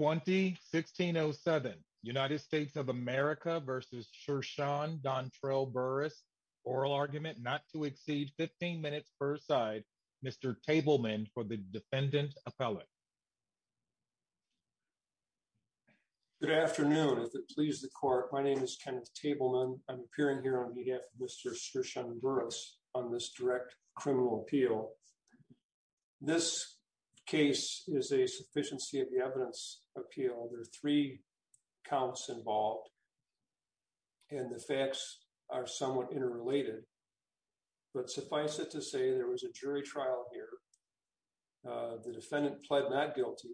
20-1607 United States of America versus Sirshun Dontrell Burris. Oral argument not to exceed 15 minutes per side. Mr. Tableman for the defendant appellate. Good afternoon. If it pleases the court, my name is Kenneth Tableman. I'm appearing here on behalf of Mr. Sirshun Burris on this direct criminal appeal. This case is a sufficiency of evidence appeal. There are three counts involved and the facts are somewhat interrelated. But suffice it to say, there was a jury trial here. The defendant pled not guilty.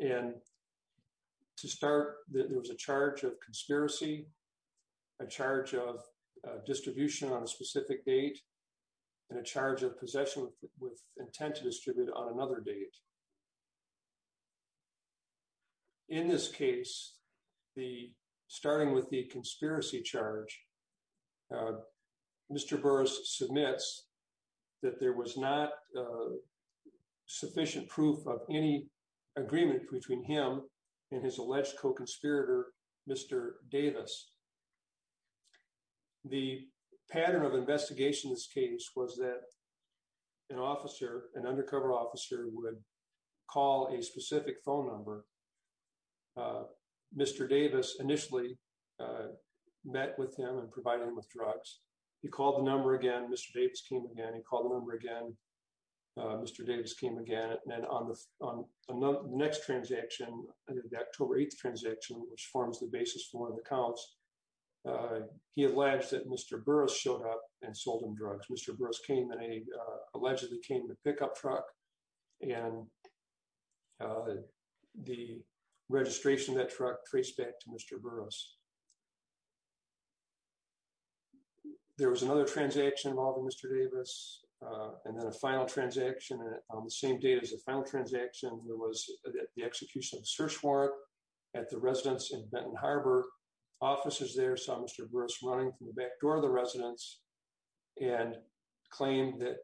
And to start, there was a charge of conspiracy, a charge of distribution on a specific date, and a charge of possession with intent to distribute on another date. In this case, starting with the conspiracy charge, Mr. Burris submits that there was not sufficient proof of any agreement between him and his alleged co-conspirator, Mr. Davis. The pattern of investigation in this case was that an officer, an undercover officer, would call a specific phone number. Mr. Davis initially met with him and provided him with drugs. He called the number again. Mr. Davis came again. He called the number again. Mr. Davis came again. And on the next transaction, the October 8th transaction, which forms the basis for one of the charges, he alleged that Mr. Burris showed up and sold him drugs. Mr. Burris allegedly came in a pickup truck, and the registration of that truck traced back to Mr. Burris. There was another transaction involving Mr. Davis, and then a final transaction on the same day as the final transaction. There was the execution of a search warrant at the residence in Benton Harbor. Officers there saw Mr. Burris running from the back door of the residence and claimed that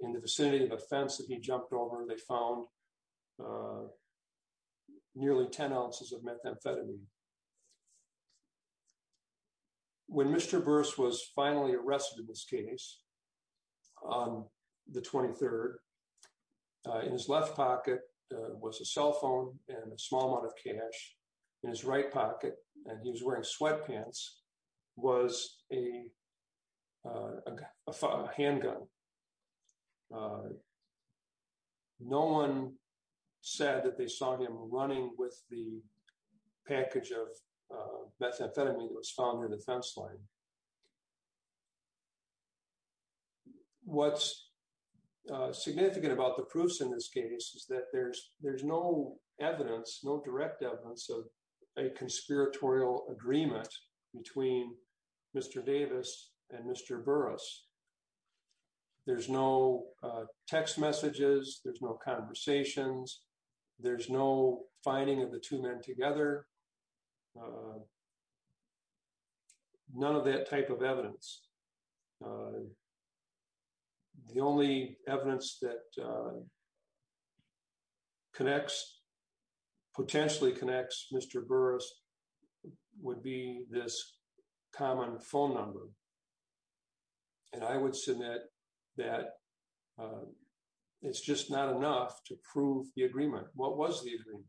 in the vicinity of a fence that he jumped over, they found nearly 10 ounces of methamphetamine. When Mr. Burris was finally arrested in this case, on the 23rd, in his left pocket was a and in his right pocket, and he was wearing sweatpants, was a handgun. No one said that they saw him running with the package of methamphetamine that was found on the fence line. What's significant about the proofs in this case is that there's no evidence, no direct evidence of a conspiratorial agreement between Mr. Davis and Mr. Burris. There's no text messages, there's no conversations, there's no finding of the two men together, none of that type of evidence. The only evidence that connects, potentially connects Mr. Burris would be this common phone number, and I would submit that it's just not enough to prove the agreement. What was the agreement?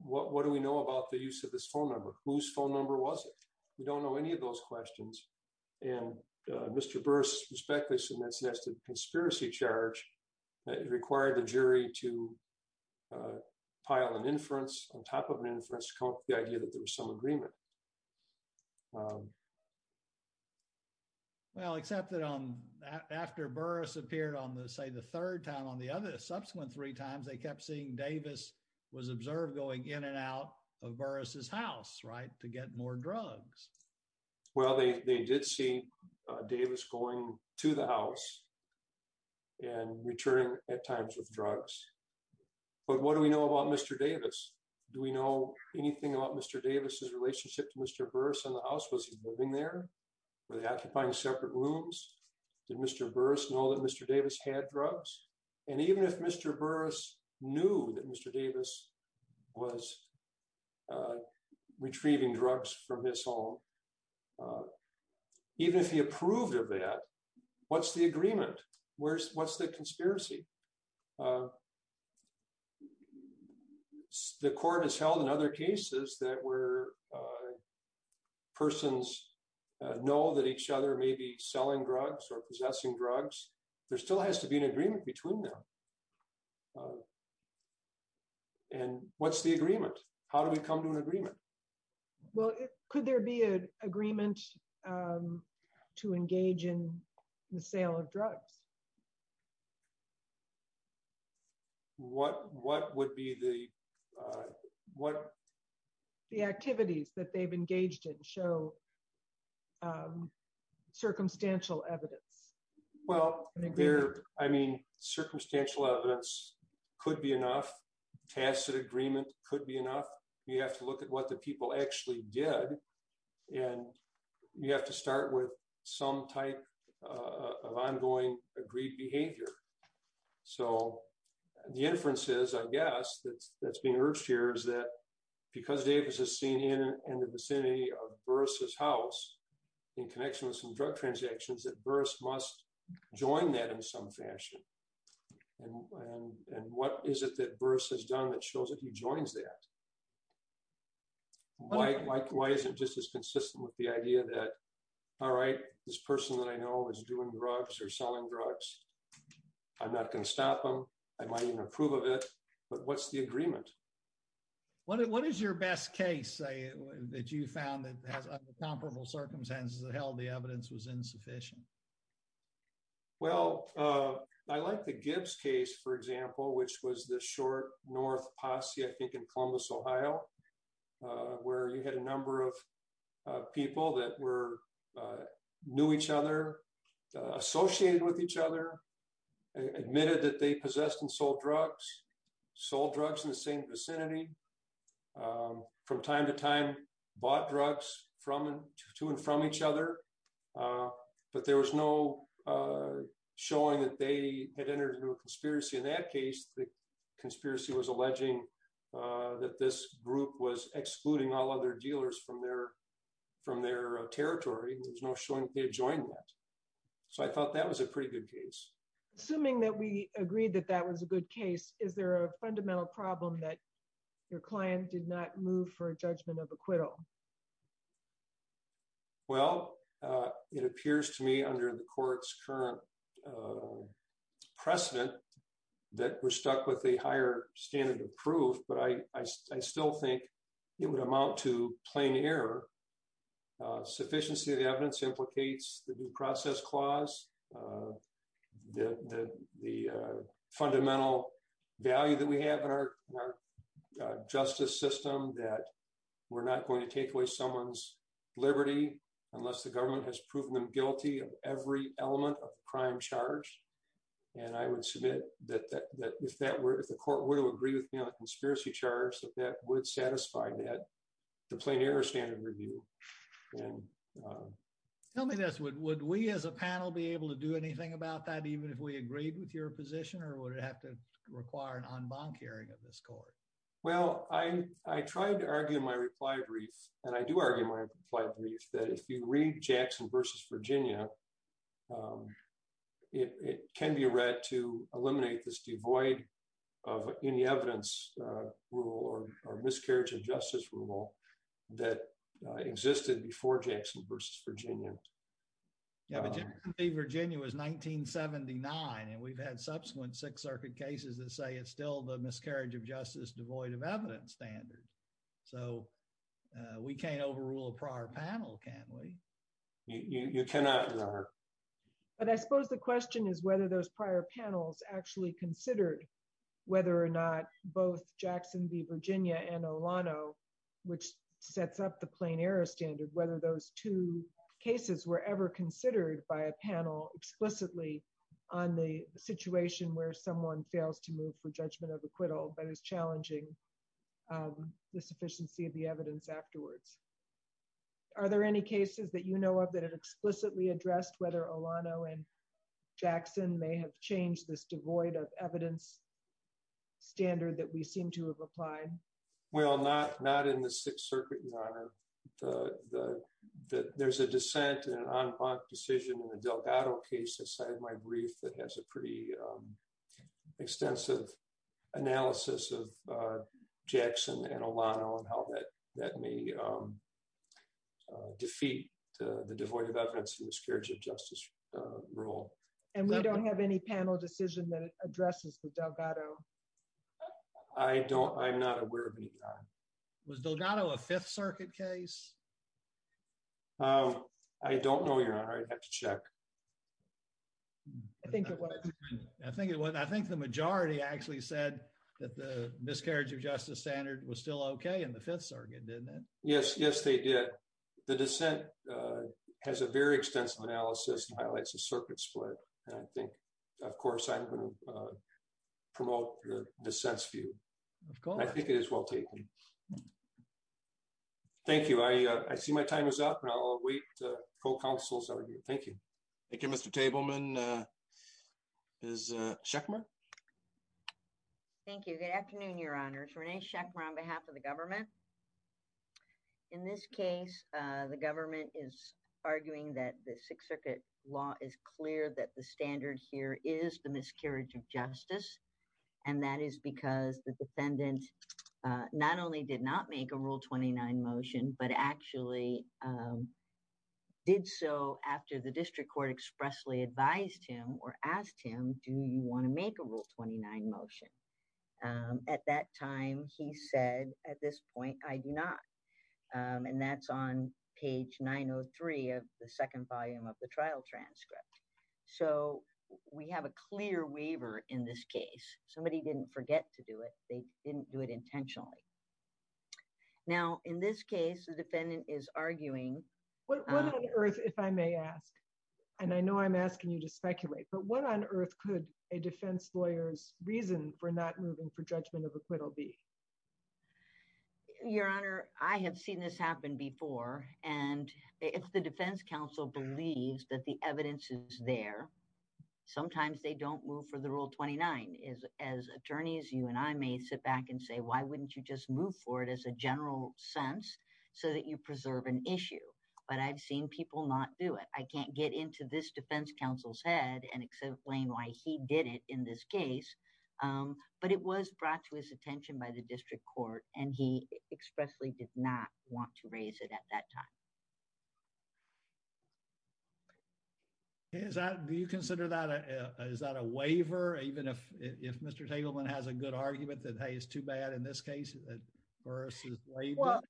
What do we know about the use of this phone number? Whose phone number was it? We don't know any of those questions, and Mr. Burris respectfully submits that's the conspiracy charge that required the jury to pile an inference on top of an inference to come up with the idea that there was some agreement. Well, except that after Burris appeared on the, say, the third time, on the other subsequent three times, they kept seeing Davis was observed going in and out of the house to get more drugs. Well, they did see Davis going to the house and returning at times with drugs, but what do we know about Mr. Davis? Do we know anything about Mr. Davis's relationship to Mr. Burris in the house? Was he living there? Were they occupying separate rooms? Did Mr. Burris know that Mr. Davis had drugs? And even if Mr. Burris knew that Mr. Davis was retrieving drugs from his home, even if he approved of that, what's the agreement? What's the conspiracy? The court has held in other cases that where persons know that each other may be selling drugs or possessing drugs, there still has to be an agreement between them. And what's the agreement? How do we come to an agreement? Well, could there be an agreement to engage in the sale of drugs? What would be the activities that they've engaged in show circumstantial evidence? Well, I mean, circumstantial evidence could be enough. Facet agreement could be enough. You have to look at what the people actually did, and you have to start with some type of ongoing agreed behavior. So the inferences, I guess, that's being urged here is that because Davis is seen in the vicinity of Burris's house, in connection with some drug transactions, that Burris must join that in some fashion. And what is it that Burris has done that shows that he joins that? Why is it just as consistent with the idea that, all right, this person that I know is doing drugs or selling drugs, I'm not going to stop them. I might even approve of it. But what's the agreement? What is your best case that you found that has comparable circumstances that held the evidence was insufficient? Well, I like the Gibbs case, for example, which was the short north posse, I think, in Columbus, Ohio, where you had a number of people that knew each other, associated with each other, admitted that they possessed and sold drugs, sold drugs in the same vicinity, from time to time, bought drugs to and from each other. But there was no showing that they had entered into a conspiracy. In that case, the conspiracy was alleging that this group was excluding all other dealers from their territory. There's no showing that they had joined that. So I thought that was a pretty good case. Assuming that we problem that your client did not move for a judgment of acquittal? Well, it appears to me under the court's current precedent, that we're stuck with a higher standard of proof, but I still think it would amount to plain error. Sufficiency of the evidence implicates the due process clause, the fundamental value that we have in our justice system that we're not going to take away someone's liberty unless the government has proven them guilty of every element of the crime charge. And I would submit that if the court would agree with me on a conspiracy charge, that that would satisfy the plain error standard review. Tell me this, would we as a panel be able to do anything about that, even if we agreed with your position, or would it have to require an en banc hearing of this court? Well, I tried to argue my reply brief, and I do argue my reply brief, that if you read Jackson v. Virginia, it can be read to eliminate this devoid of any evidence rule or miscarriage of justice rule that existed before Jackson v. Virginia. Yeah, but Jackson v. Virginia was 1979, and we've had subsequent Sixth Circuit cases that say it's still the miscarriage of justice devoid of evidence standard. So we can't overrule a prior panel, can we? But I suppose the question is whether those prior panels actually considered whether or not both Jackson v. Virginia and Olano, which sets up the plain error standard, whether those two cases were ever considered by a panel explicitly on the situation where someone fails to move for judgment of acquittal but is challenging the sufficiency of the evidence afterwards. Are there any cases that you know of that have explicitly addressed whether Olano and Jackson may have changed this devoid of evidence standard that we seem to have applied? Well, not in the Sixth Circuit, Your Honor. There's a dissent and an en banc decision in Delgado case that cited my brief that has a pretty extensive analysis of Jackson and Olano and how that may defeat the devoid of evidence and miscarriage of justice rule. And we don't have any panel decision that addresses Delgado? I don't. I'm not aware of any. Was Delgado a Fifth Circuit case? I don't know, Your Honor. I'd have to check. I think it was. I think it was. I think the majority actually said that the miscarriage of justice standard was still OK in the Fifth Circuit, didn't it? Yes. Yes, they did. The dissent has a very extensive analysis and highlights the circuit split. And I think, of course, I'm going to promote the sense for you. I think it is well taken. Thank you. I see my time is up, and I'll wait for counsel's argument. Thank you. Thank you, Mr. Tableman. Is Sheckmire? Thank you. Good afternoon, Your Honors. Renee Sheckmire on behalf of the government. In this case, the government is arguing that the Sixth Circuit law is clear that the standard here is the miscarriage of justice. And that is because the defendant not only did not make a Rule 29 motion, but actually did so after the district court expressly advised him or asked him, do you want to make a Rule 29 motion? At that time, he said, at this point, I do not. And that's on page 903 of the second volume of the trial transcript. So we have a clear waiver in this case. Somebody didn't forget to do it. They didn't do it intentionally. Now, in this case, the defendant is arguing. What on earth, if I may ask, and I know I'm asking you to speculate, but what on earth could a defense lawyer's reason for not moving for judgment of acquittal be? Your Honor, I have seen this happen before. And if the defense counsel believes that the evidence is there, sometimes they don't move for the Rule 29. As attorneys, you and I may sit back and say, why wouldn't you just move for it as a general sense so that you preserve an issue? But I've seen people not do it. I can't get into this defense counsel's head and explain why he did it in this case. But it was brought to his attention by the District Court, and he expressly did not want to raise it at that time. Is that, do you consider that, is that a waiver? Even if Mr. Tegelman has a good argument that, hey, it's too bad in this case versus waiver? Well,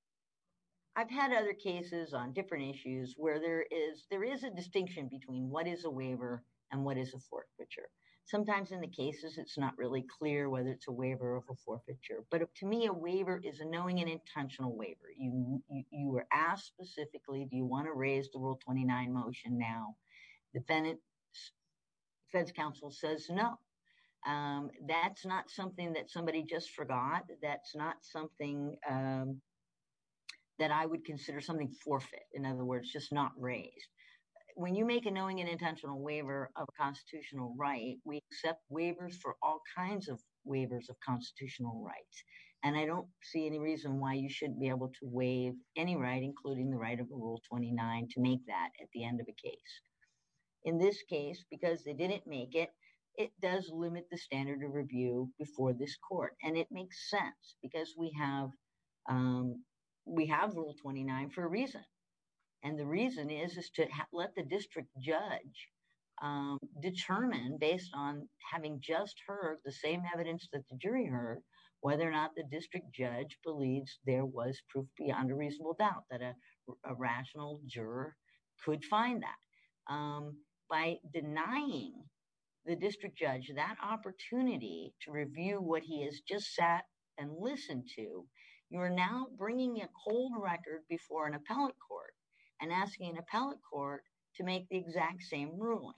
I've had other cases on different issues where there is, there is a distinction between what is a waiver and what is a forfeiture. Sometimes in the cases, it's not really clear whether it's a waiver or a forfeiture. But to me, a waiver is a knowing and intentional waiver. You were asked specifically, do you want to raise the Rule 29 motion now? Defense counsel says no. That's not something that somebody just forgot. That's not something that I would consider something forfeit. In other words, just not raised. When you make a knowing and intentional waiver of a constitutional right, we accept waivers for all kinds of waivers of constitutional rights. And I don't see any reason why you shouldn't be able to waive any right, including the right of Rule 29, to make that at the end of a case. In this case, because they didn't make it, it does limit the standard of review before this And the reason is, is to let the district judge determine based on having just heard the same evidence that the jury heard, whether or not the district judge believes there was proof beyond a reasonable doubt that a rational juror could find that. By denying the district judge that opportunity to review what he has just sat and listened to, you're now bringing a cold record before an appellate court and asking an appellate court to make the exact same ruling.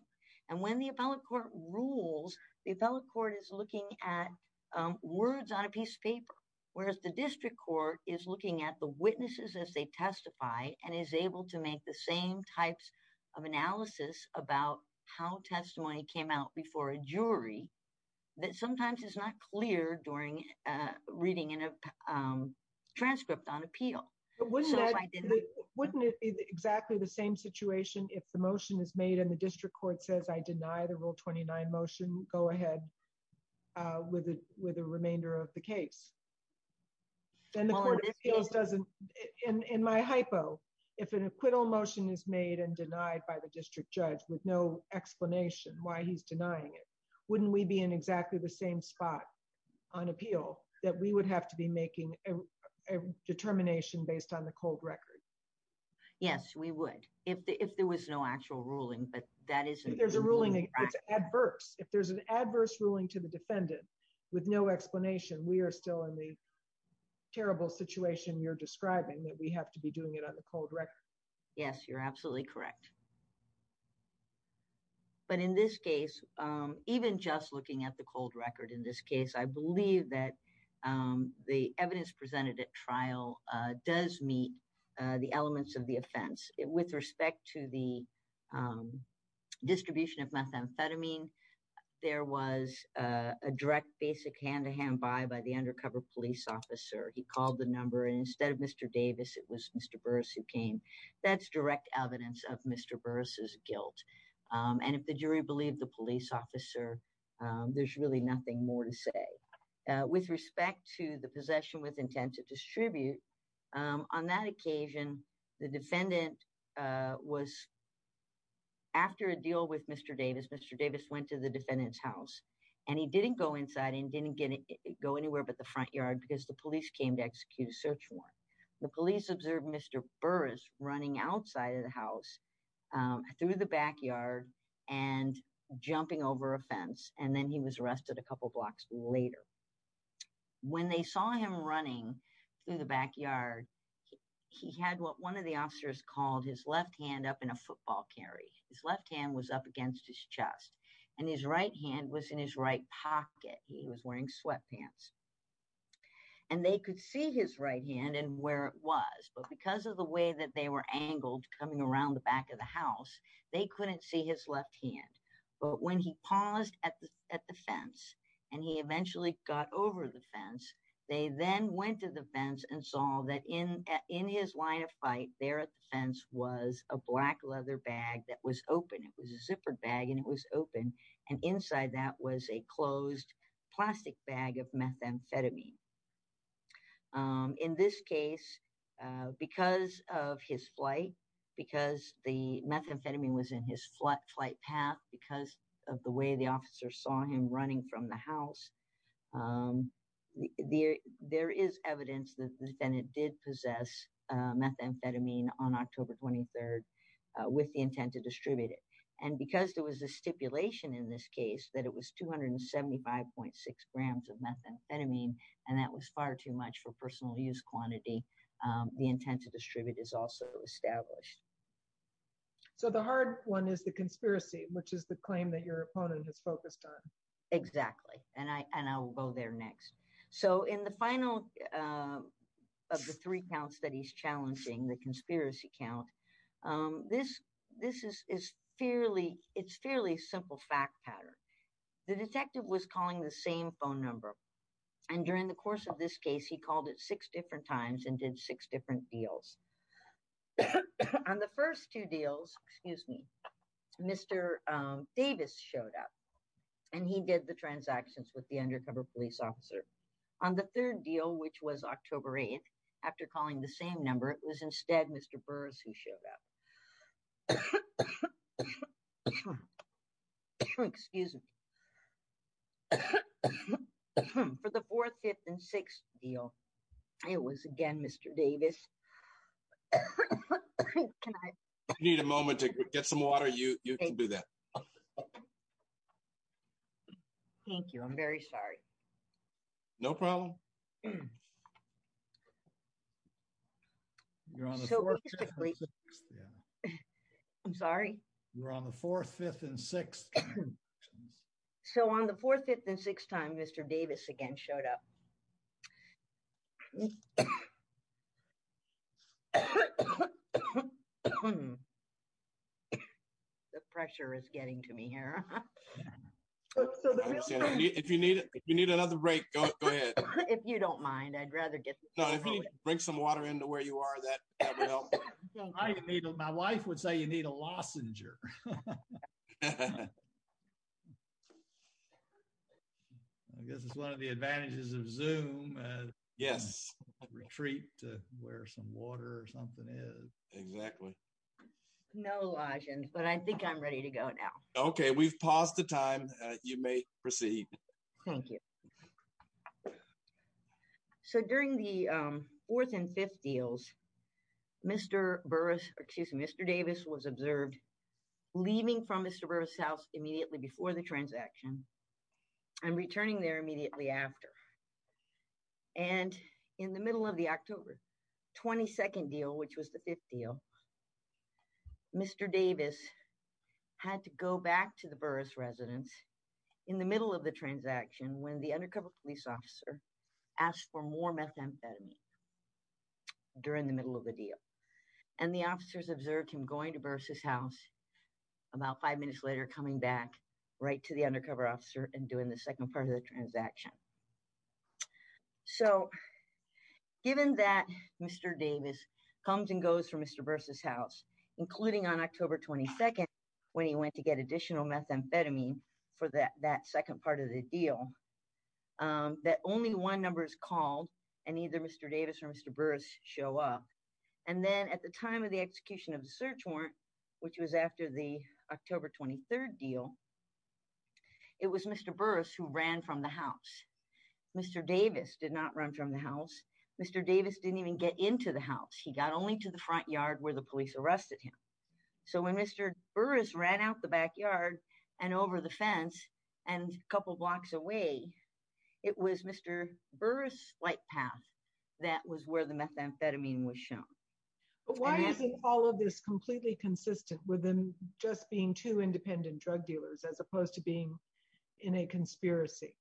And when the appellate court rules, the appellate court is looking at words on a piece of paper, whereas the district court is looking at the witnesses as they testify and is able to make the same types of analysis about how testimony came out before a jury that sometimes is not clear during reading a transcript on appeal. Wouldn't it be exactly the same situation if the motion is made and the district court says, I deny the Rule 29 motion, go ahead with the remainder of the case? Then the court appeals doesn't, in my hypo, if an acquittal motion is made and denied by the district judge with no explanation why he's denying it, wouldn't we be in exactly the same spot on appeal that we would have to be making a determination based on the cold record? Yes, we would. If there was no actual ruling, but that isn't. If there's a ruling, it's adverse. If there's an adverse ruling to the defendant with no explanation, we are still in the terrible situation you're describing that we have to be doing it on the cold record. Yes, you're absolutely correct. But in this case, even just looking at the cold record in this case, I believe that the evidence presented at trial does meet the elements of the offense. With respect to the distribution of methamphetamine, there was a direct basic hand-to-hand buy by the undercover police officer. He called the number and instead of Mr. Davis, it was Mr. Burris who came. That's direct evidence of Mr. Burris' guilt. And if the jury believed the police officer, there's really nothing more to say. With respect to the possession with intent to distribute, on that occasion, the defendant was, after a deal with Mr. Davis, Mr. Davis went to the defendant's house and he didn't go inside and didn't go anywhere but the front yard because the police came to execute a search warrant. The police observed Mr. Burris running outside of the house through the backyard and jumping over a fence and then he was arrested a couple blocks later. When they saw him running through the backyard, he had what one of the officers called his left hand up in a football carry. His left hand was up against his chest and his right hand was in his right pocket. He was wearing sweatpants. And they could see his right hand and where it was but because of the way that they were angled coming around the back of the house, they couldn't see his left hand. But when he paused at the fence and he eventually got over the fence, they then went to the fence and saw that in his line of fight there at the fence was a black leather bag that was open. It was a zippered bag and it was open and inside that was a closed plastic bag of methamphetamine. In this case, because of his flight, because the methamphetamine was in his flight path, because of the way the officer saw him running from the house, there is evidence that the defendant did possess methamphetamine on October 23rd with the intent to distribute it. And because there was a stipulation in this case that it was 275.6 grams of methamphetamine and that was far too much for personal use quantity, the intent to distribute is also established. So the hard one is the conspiracy, which is the claim that your opponent has focused on. Exactly, and I will go there next. So in the final of the three counts that he's challenging, the conspiracy count, this is fairly simple fact pattern. The detective was calling the same phone number and during the course of this case, he called it six different times and did different deals. On the first two deals, excuse me, Mr. Davis showed up and he did the transactions with the undercover police officer. On the third deal, which was October 8th, after calling the same number, it was instead Mr. Burrs who showed up. Excuse me. For the fourth, fifth and sixth deal, it was again, Mr. Davis. I need a moment to get some water. You can do that. Thank you. I'm very sorry. No problem. I'm sorry. You're on the fourth, fifth and sixth. So on the fourth, fifth and sixth time, Mr. Davis again showed up. The pressure is getting to me here. If you need another break, go ahead. If you don't mind, I'd rather get- No, if you need to drink some water into where you are, that would help. I don't need it. My wife would say you need a lozenger. I guess it's one of the advantages of Zoom. Yes. Retreat to where some water or something is. Exactly. No, Elijah, but I think I'm ready to go now. Okay. We've paused the time. You may proceed. Thank you. Okay. So during the fourth and fifth deals, Mr. Burris, excuse me, Mr. Davis was observed leaving from Mr. Burris' house immediately before the transaction and returning there immediately after. And in the middle of the October 22nd deal, which was the fifth deal, Mr. Davis had to go back to the Burris residence in the middle of the transaction when the undercover police officer asked for more methamphetamine during the middle of the deal. And the officers observed him going to Burris' house about five minutes later, coming back right to the undercover officer and doing the second part of the transaction. So given that Mr. Davis comes and goes from Mr. Burris' house, including on October 22nd when he went to get additional methamphetamine, that second part of the deal, that only one number is called and either Mr. Davis or Mr. Burris show up. And then at the time of the execution of the search warrant, which was after the October 23rd deal, it was Mr. Burris who ran from the house. Mr. Davis did not run from the house. Mr. Davis didn't even get into the house. He got only to the front yard where the police arrested him. So when Mr. Burris ran out the backyard and over the fence and a couple blocks away, it was Mr. Burris' flight path that was where the methamphetamine was shown. But why isn't all of this completely consistent with them just being two independent drug dealers as opposed to being in a conspiracy?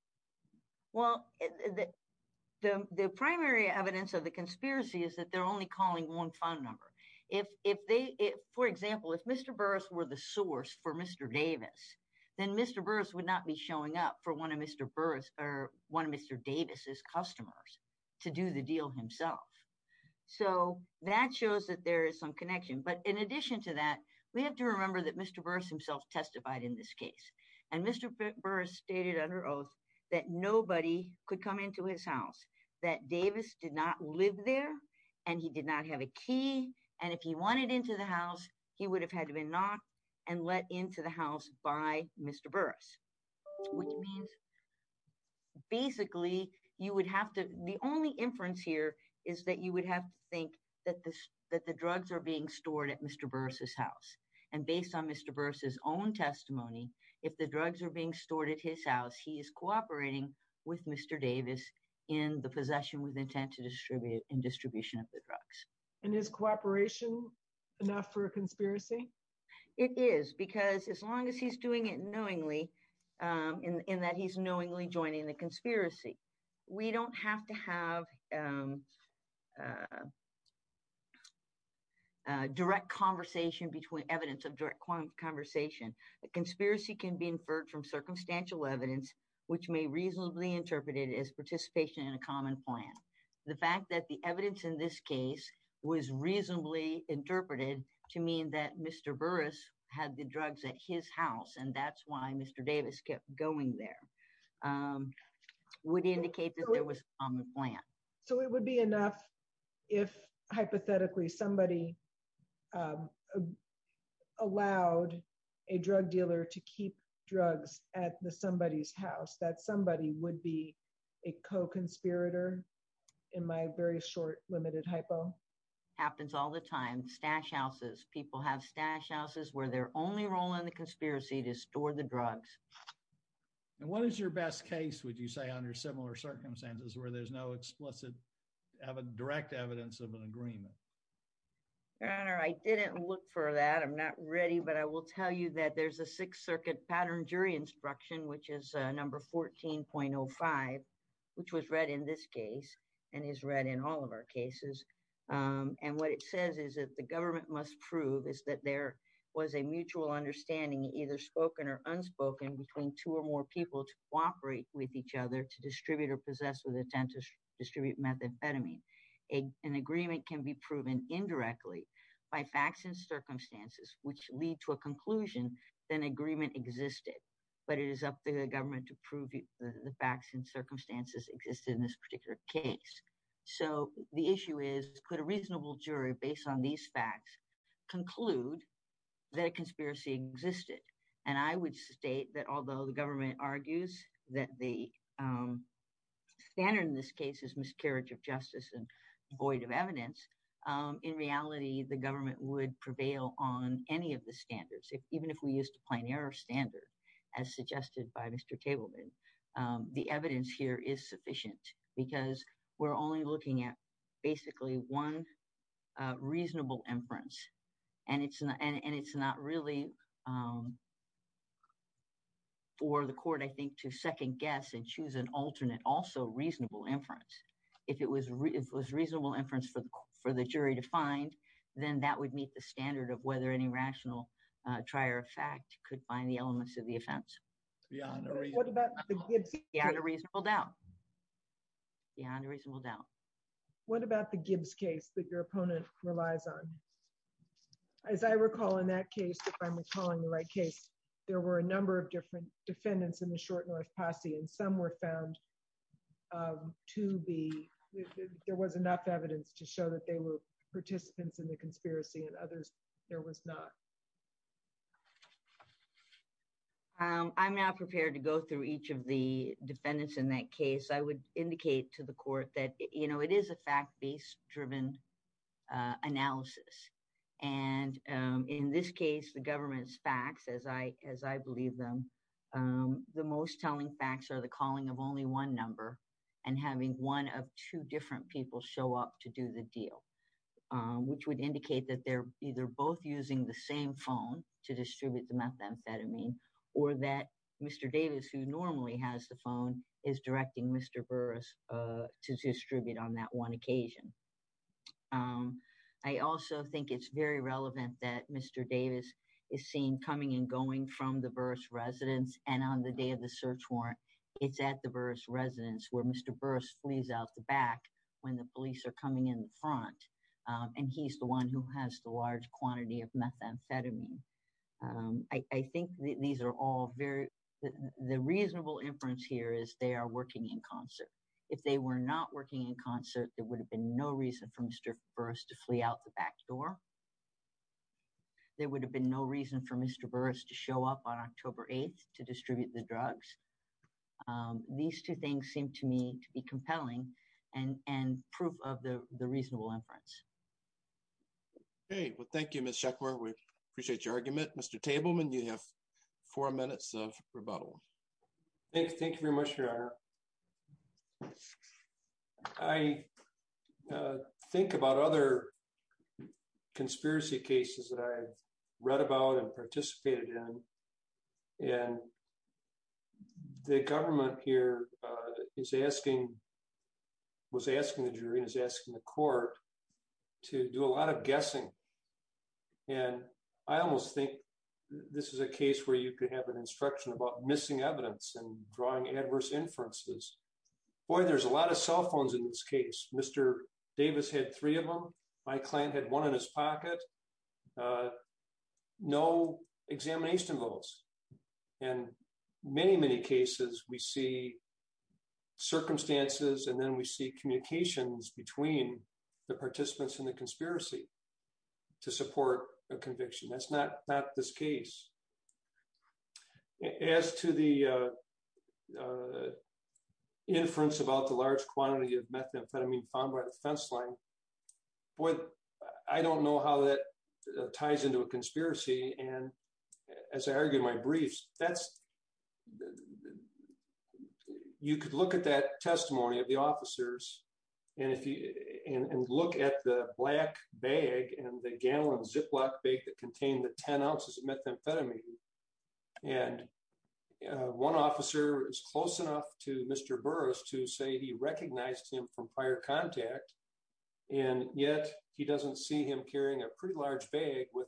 Well, the primary evidence of the conspiracy is that they're only calling one phone number. If they, for example, if Mr. Burris were the source for Mr. Davis, then Mr. Burris would not be showing up for one of Mr. Burris or one of Mr. Davis' customers to do the deal himself. So that shows that there is some connection. But in addition to that, we have to remember that Mr. Burris himself testified in this case. And Mr. Burris stated under oath that nobody could come into his house, that Davis did not live there and he did not have a key. And if he wanted into the house, he would have had to been knocked and let into the house by Mr. Burris. Which means basically you would have to, the only inference here is that you would have to think that the drugs are being stored at Mr. Burris' house. And based on Mr. Burris' own testimony, if the drugs are being stored at his house, he is cooperating with Mr. Davis in the possession with intent to distribute and distribution of the drugs. And is cooperation enough for a conspiracy? It is because as long as he's doing it knowingly, in that he's knowingly joining the conspiracy, we don't have to have direct conversation between evidence of direct conversation. A conspiracy can be inferred from circumstantial evidence, which may reasonably interpreted as participation in a common plan. The fact that the evidence in this case was reasonably interpreted to mean that Mr. Burris had the drugs at his house and that's why Mr. Davis kept going there would indicate that there was on the plan. So it would be enough if hypothetically somebody allowed a drug dealer to keep drugs at somebody's house, that somebody would be a co-conspirator in my very short limited hypo? Happens all the time. Stash houses. People have stash houses where their only role in the conspiracy to store the drugs. And what is your best case, would you say, under similar circumstances where there's no explicit direct evidence of an agreement? Your Honor, I didn't look for that. I'm not ready. But I will tell you that there's a Sixth Circuit pattern jury instruction, which is number 14.05, which was read in this case and is read in all of our cases. And what it says is that the government must prove is that there was a mutual understanding, either spoken or unspoken, between two or more people to cooperate with each other, to distribute or possess with intent to distribute methamphetamine. An agreement can be proven indirectly by facts and circumstances, which lead to a conclusion that an agreement existed. But it is up to the government to prove the facts and circumstances existed in this particular case. So the issue is, could a reasonable jury, based on these facts, conclude that a conspiracy existed? And I would state that although the government argues that the standard in this case is miscarriage of justice and void of evidence, in reality, the government would prevail on any of the standards, even if we used a plein air standard, as suggested by Mr. Tableman. The evidence here is sufficient because we're only looking at basically one reasonable inference. And it's not really for the court, I think, to second guess and choose an alternate, also reasonable inference. If it was reasonable inference for the jury to find, then that would meet the standard of whether any rational trier of fact could find the elements of the offense. It's beyond a reason. What about the Gibbs case? Beyond a reasonable doubt. Beyond a reasonable doubt. What about the Gibbs case that your opponent relies on? As I recall, in that case, if I'm recalling the right case, there were a number of different defendants in the Short North Posse, and some were found to be, there was enough evidence to show that they were participants in the conspiracy, and others there was not. I'm not prepared to go through each of the defendants in that case. I would indicate to the court that it is a fact-based driven analysis. And in this case, the government's facts, as I believe them, the most telling facts are the calling of only one number and having one of two different people show up to do the deal, which would indicate that they're either both using the same phone to distribute the methamphetamine, or that Mr. Davis, who normally has the phone, is directing Mr. Burris to distribute on that one occasion. I also think it's very relevant that Mr. Davis is seen coming and going from the Burris residence, and on the day of the search warrant, it's at the Burris residence where Mr. Burris flees out the back when the police are coming in front, and he's the one who has the large quantity of methamphetamine. The reasonable inference here is they are working in concert. If they were not working in concert, there would have been no reason for Mr. Burris to flee out the back door. There would have been no reason for Mr. Burris to show up on October 8th to distribute the drugs. These two things seem to me to be compelling and proof of the reasonable inference. Okay. Well, thank you, Ms. Sheckler. We appreciate your argument. Mr. Tableman, you have four minutes of rebuttal. Thank you very much, Your Honor. I think about other conspiracy cases that I've read about and participated in, and the government here was asking the jury and was asking the court to do a lot of guessing, and I almost think this is a case where you could have an instruction about missing evidence and drawing adverse inferences. Boy, there's a lot of cell phones in this case. Mr. Davis had three of them. My client had one in his pocket. No examination votes. In many, many cases, we see circumstances, and then we see communications between the participants in the conspiracy to support a conviction. That's not this case. As to the inference about the large quantity of methamphetamine found by the fence line, boy, I don't know how that ties into a conspiracy, and as I argue in my briefs, you could look at that testimony of the officers and look at the black bag and the gallon Ziploc bag that contained the 10 ounces of methamphetamine, and one officer is close enough to Mr. Burris to say he recognized him from prior contact, and yet he doesn't see him a pretty large bag with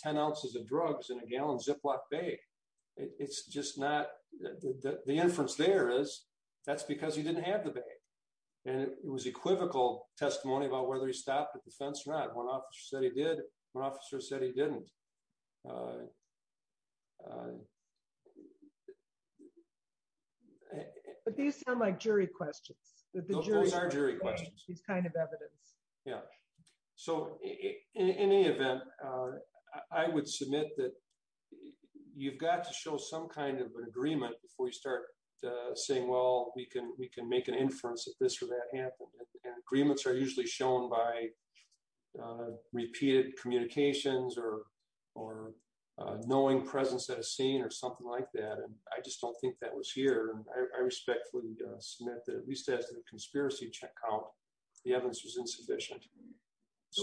10 ounces of drugs in a gallon Ziploc bag. The inference there is that's because he didn't have the bag, and it was equivocal testimony about whether he stopped at the fence or not. One officer said he did. One officer said he didn't. But these sound like jury questions. Those are jury questions. In any event, I would submit that you've got to show some kind of agreement before you start saying, well, we can make an inference that this or that happened, and agreements are usually shown by repeated communications or knowing presence at a scene or something like that, and I just don't think that was here, and I respectfully submit that at least as a conspiracy check out, the evidence was insufficient.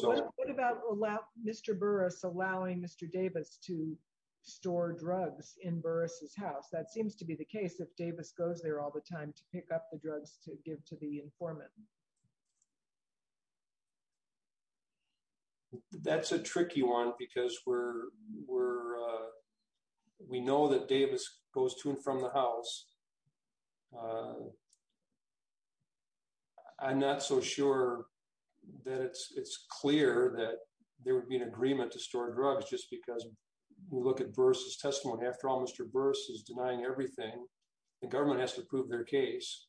What about Mr. Burris allowing Mr. Davis to store drugs in Burris' house? That seems to be the case if Davis goes there all the time to pick up the drugs to give to the informant. That's a tricky one because we know that Davis goes to from the house. I'm not so sure that it's clear that there would be an agreement to store drugs just because we look at Burris' testimony. After all, Mr. Burris is denying everything. The government has to prove their case,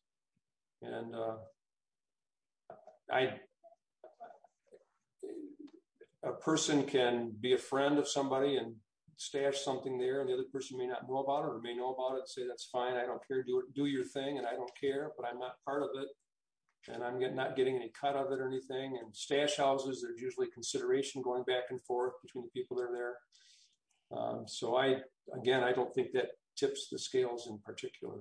and a person can be a friend of somebody and stash something there, and the other person may not know about it or may know about it and say that's fine. I don't care. Do your thing, and I don't care, but I'm not part of it, and I'm not getting any cut of it or anything. In stash houses, there's usually consideration going back and forth between the people that are there, so again, I don't think that tips the scales in particular.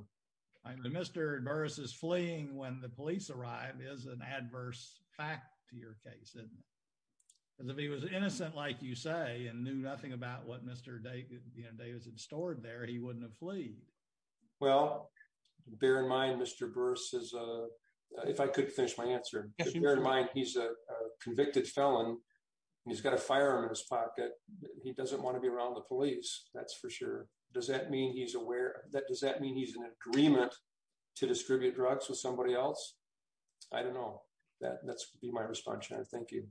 Mr. Burris' fleeing when the police arrive is an adverse fact to your case, isn't it? If he was innocent, like you say, and knew nothing about what Mr. Davis had stored there, he wouldn't have fleed. Well, bear in mind, Mr. Burris, if I could finish my answer. Bear in mind, he's a convicted felon, and he's got a firearm in his pocket. He doesn't want to be around the police, that's for sure. Does that mean he's aware? Does that mean he's in agreement to distribute Thank you.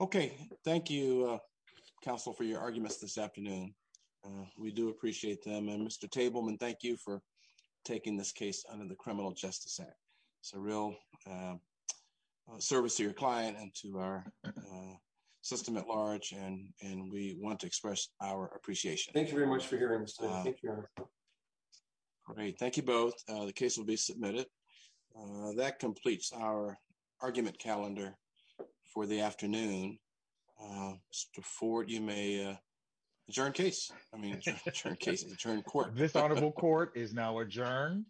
Okay. Thank you, counsel, for your arguments this afternoon. We do appreciate them, and Mr. Tableman, thank you for taking this case under the Criminal Justice Act. It's a real service to your client and to our system at large, and we want to express our appreciation. Thank you very much for hearing us. Great. Thank you both. The case will be submitted. That completes our argument calendar for the afternoon. Mr. Ford, you may adjourn case. This honorable court is now adjourned.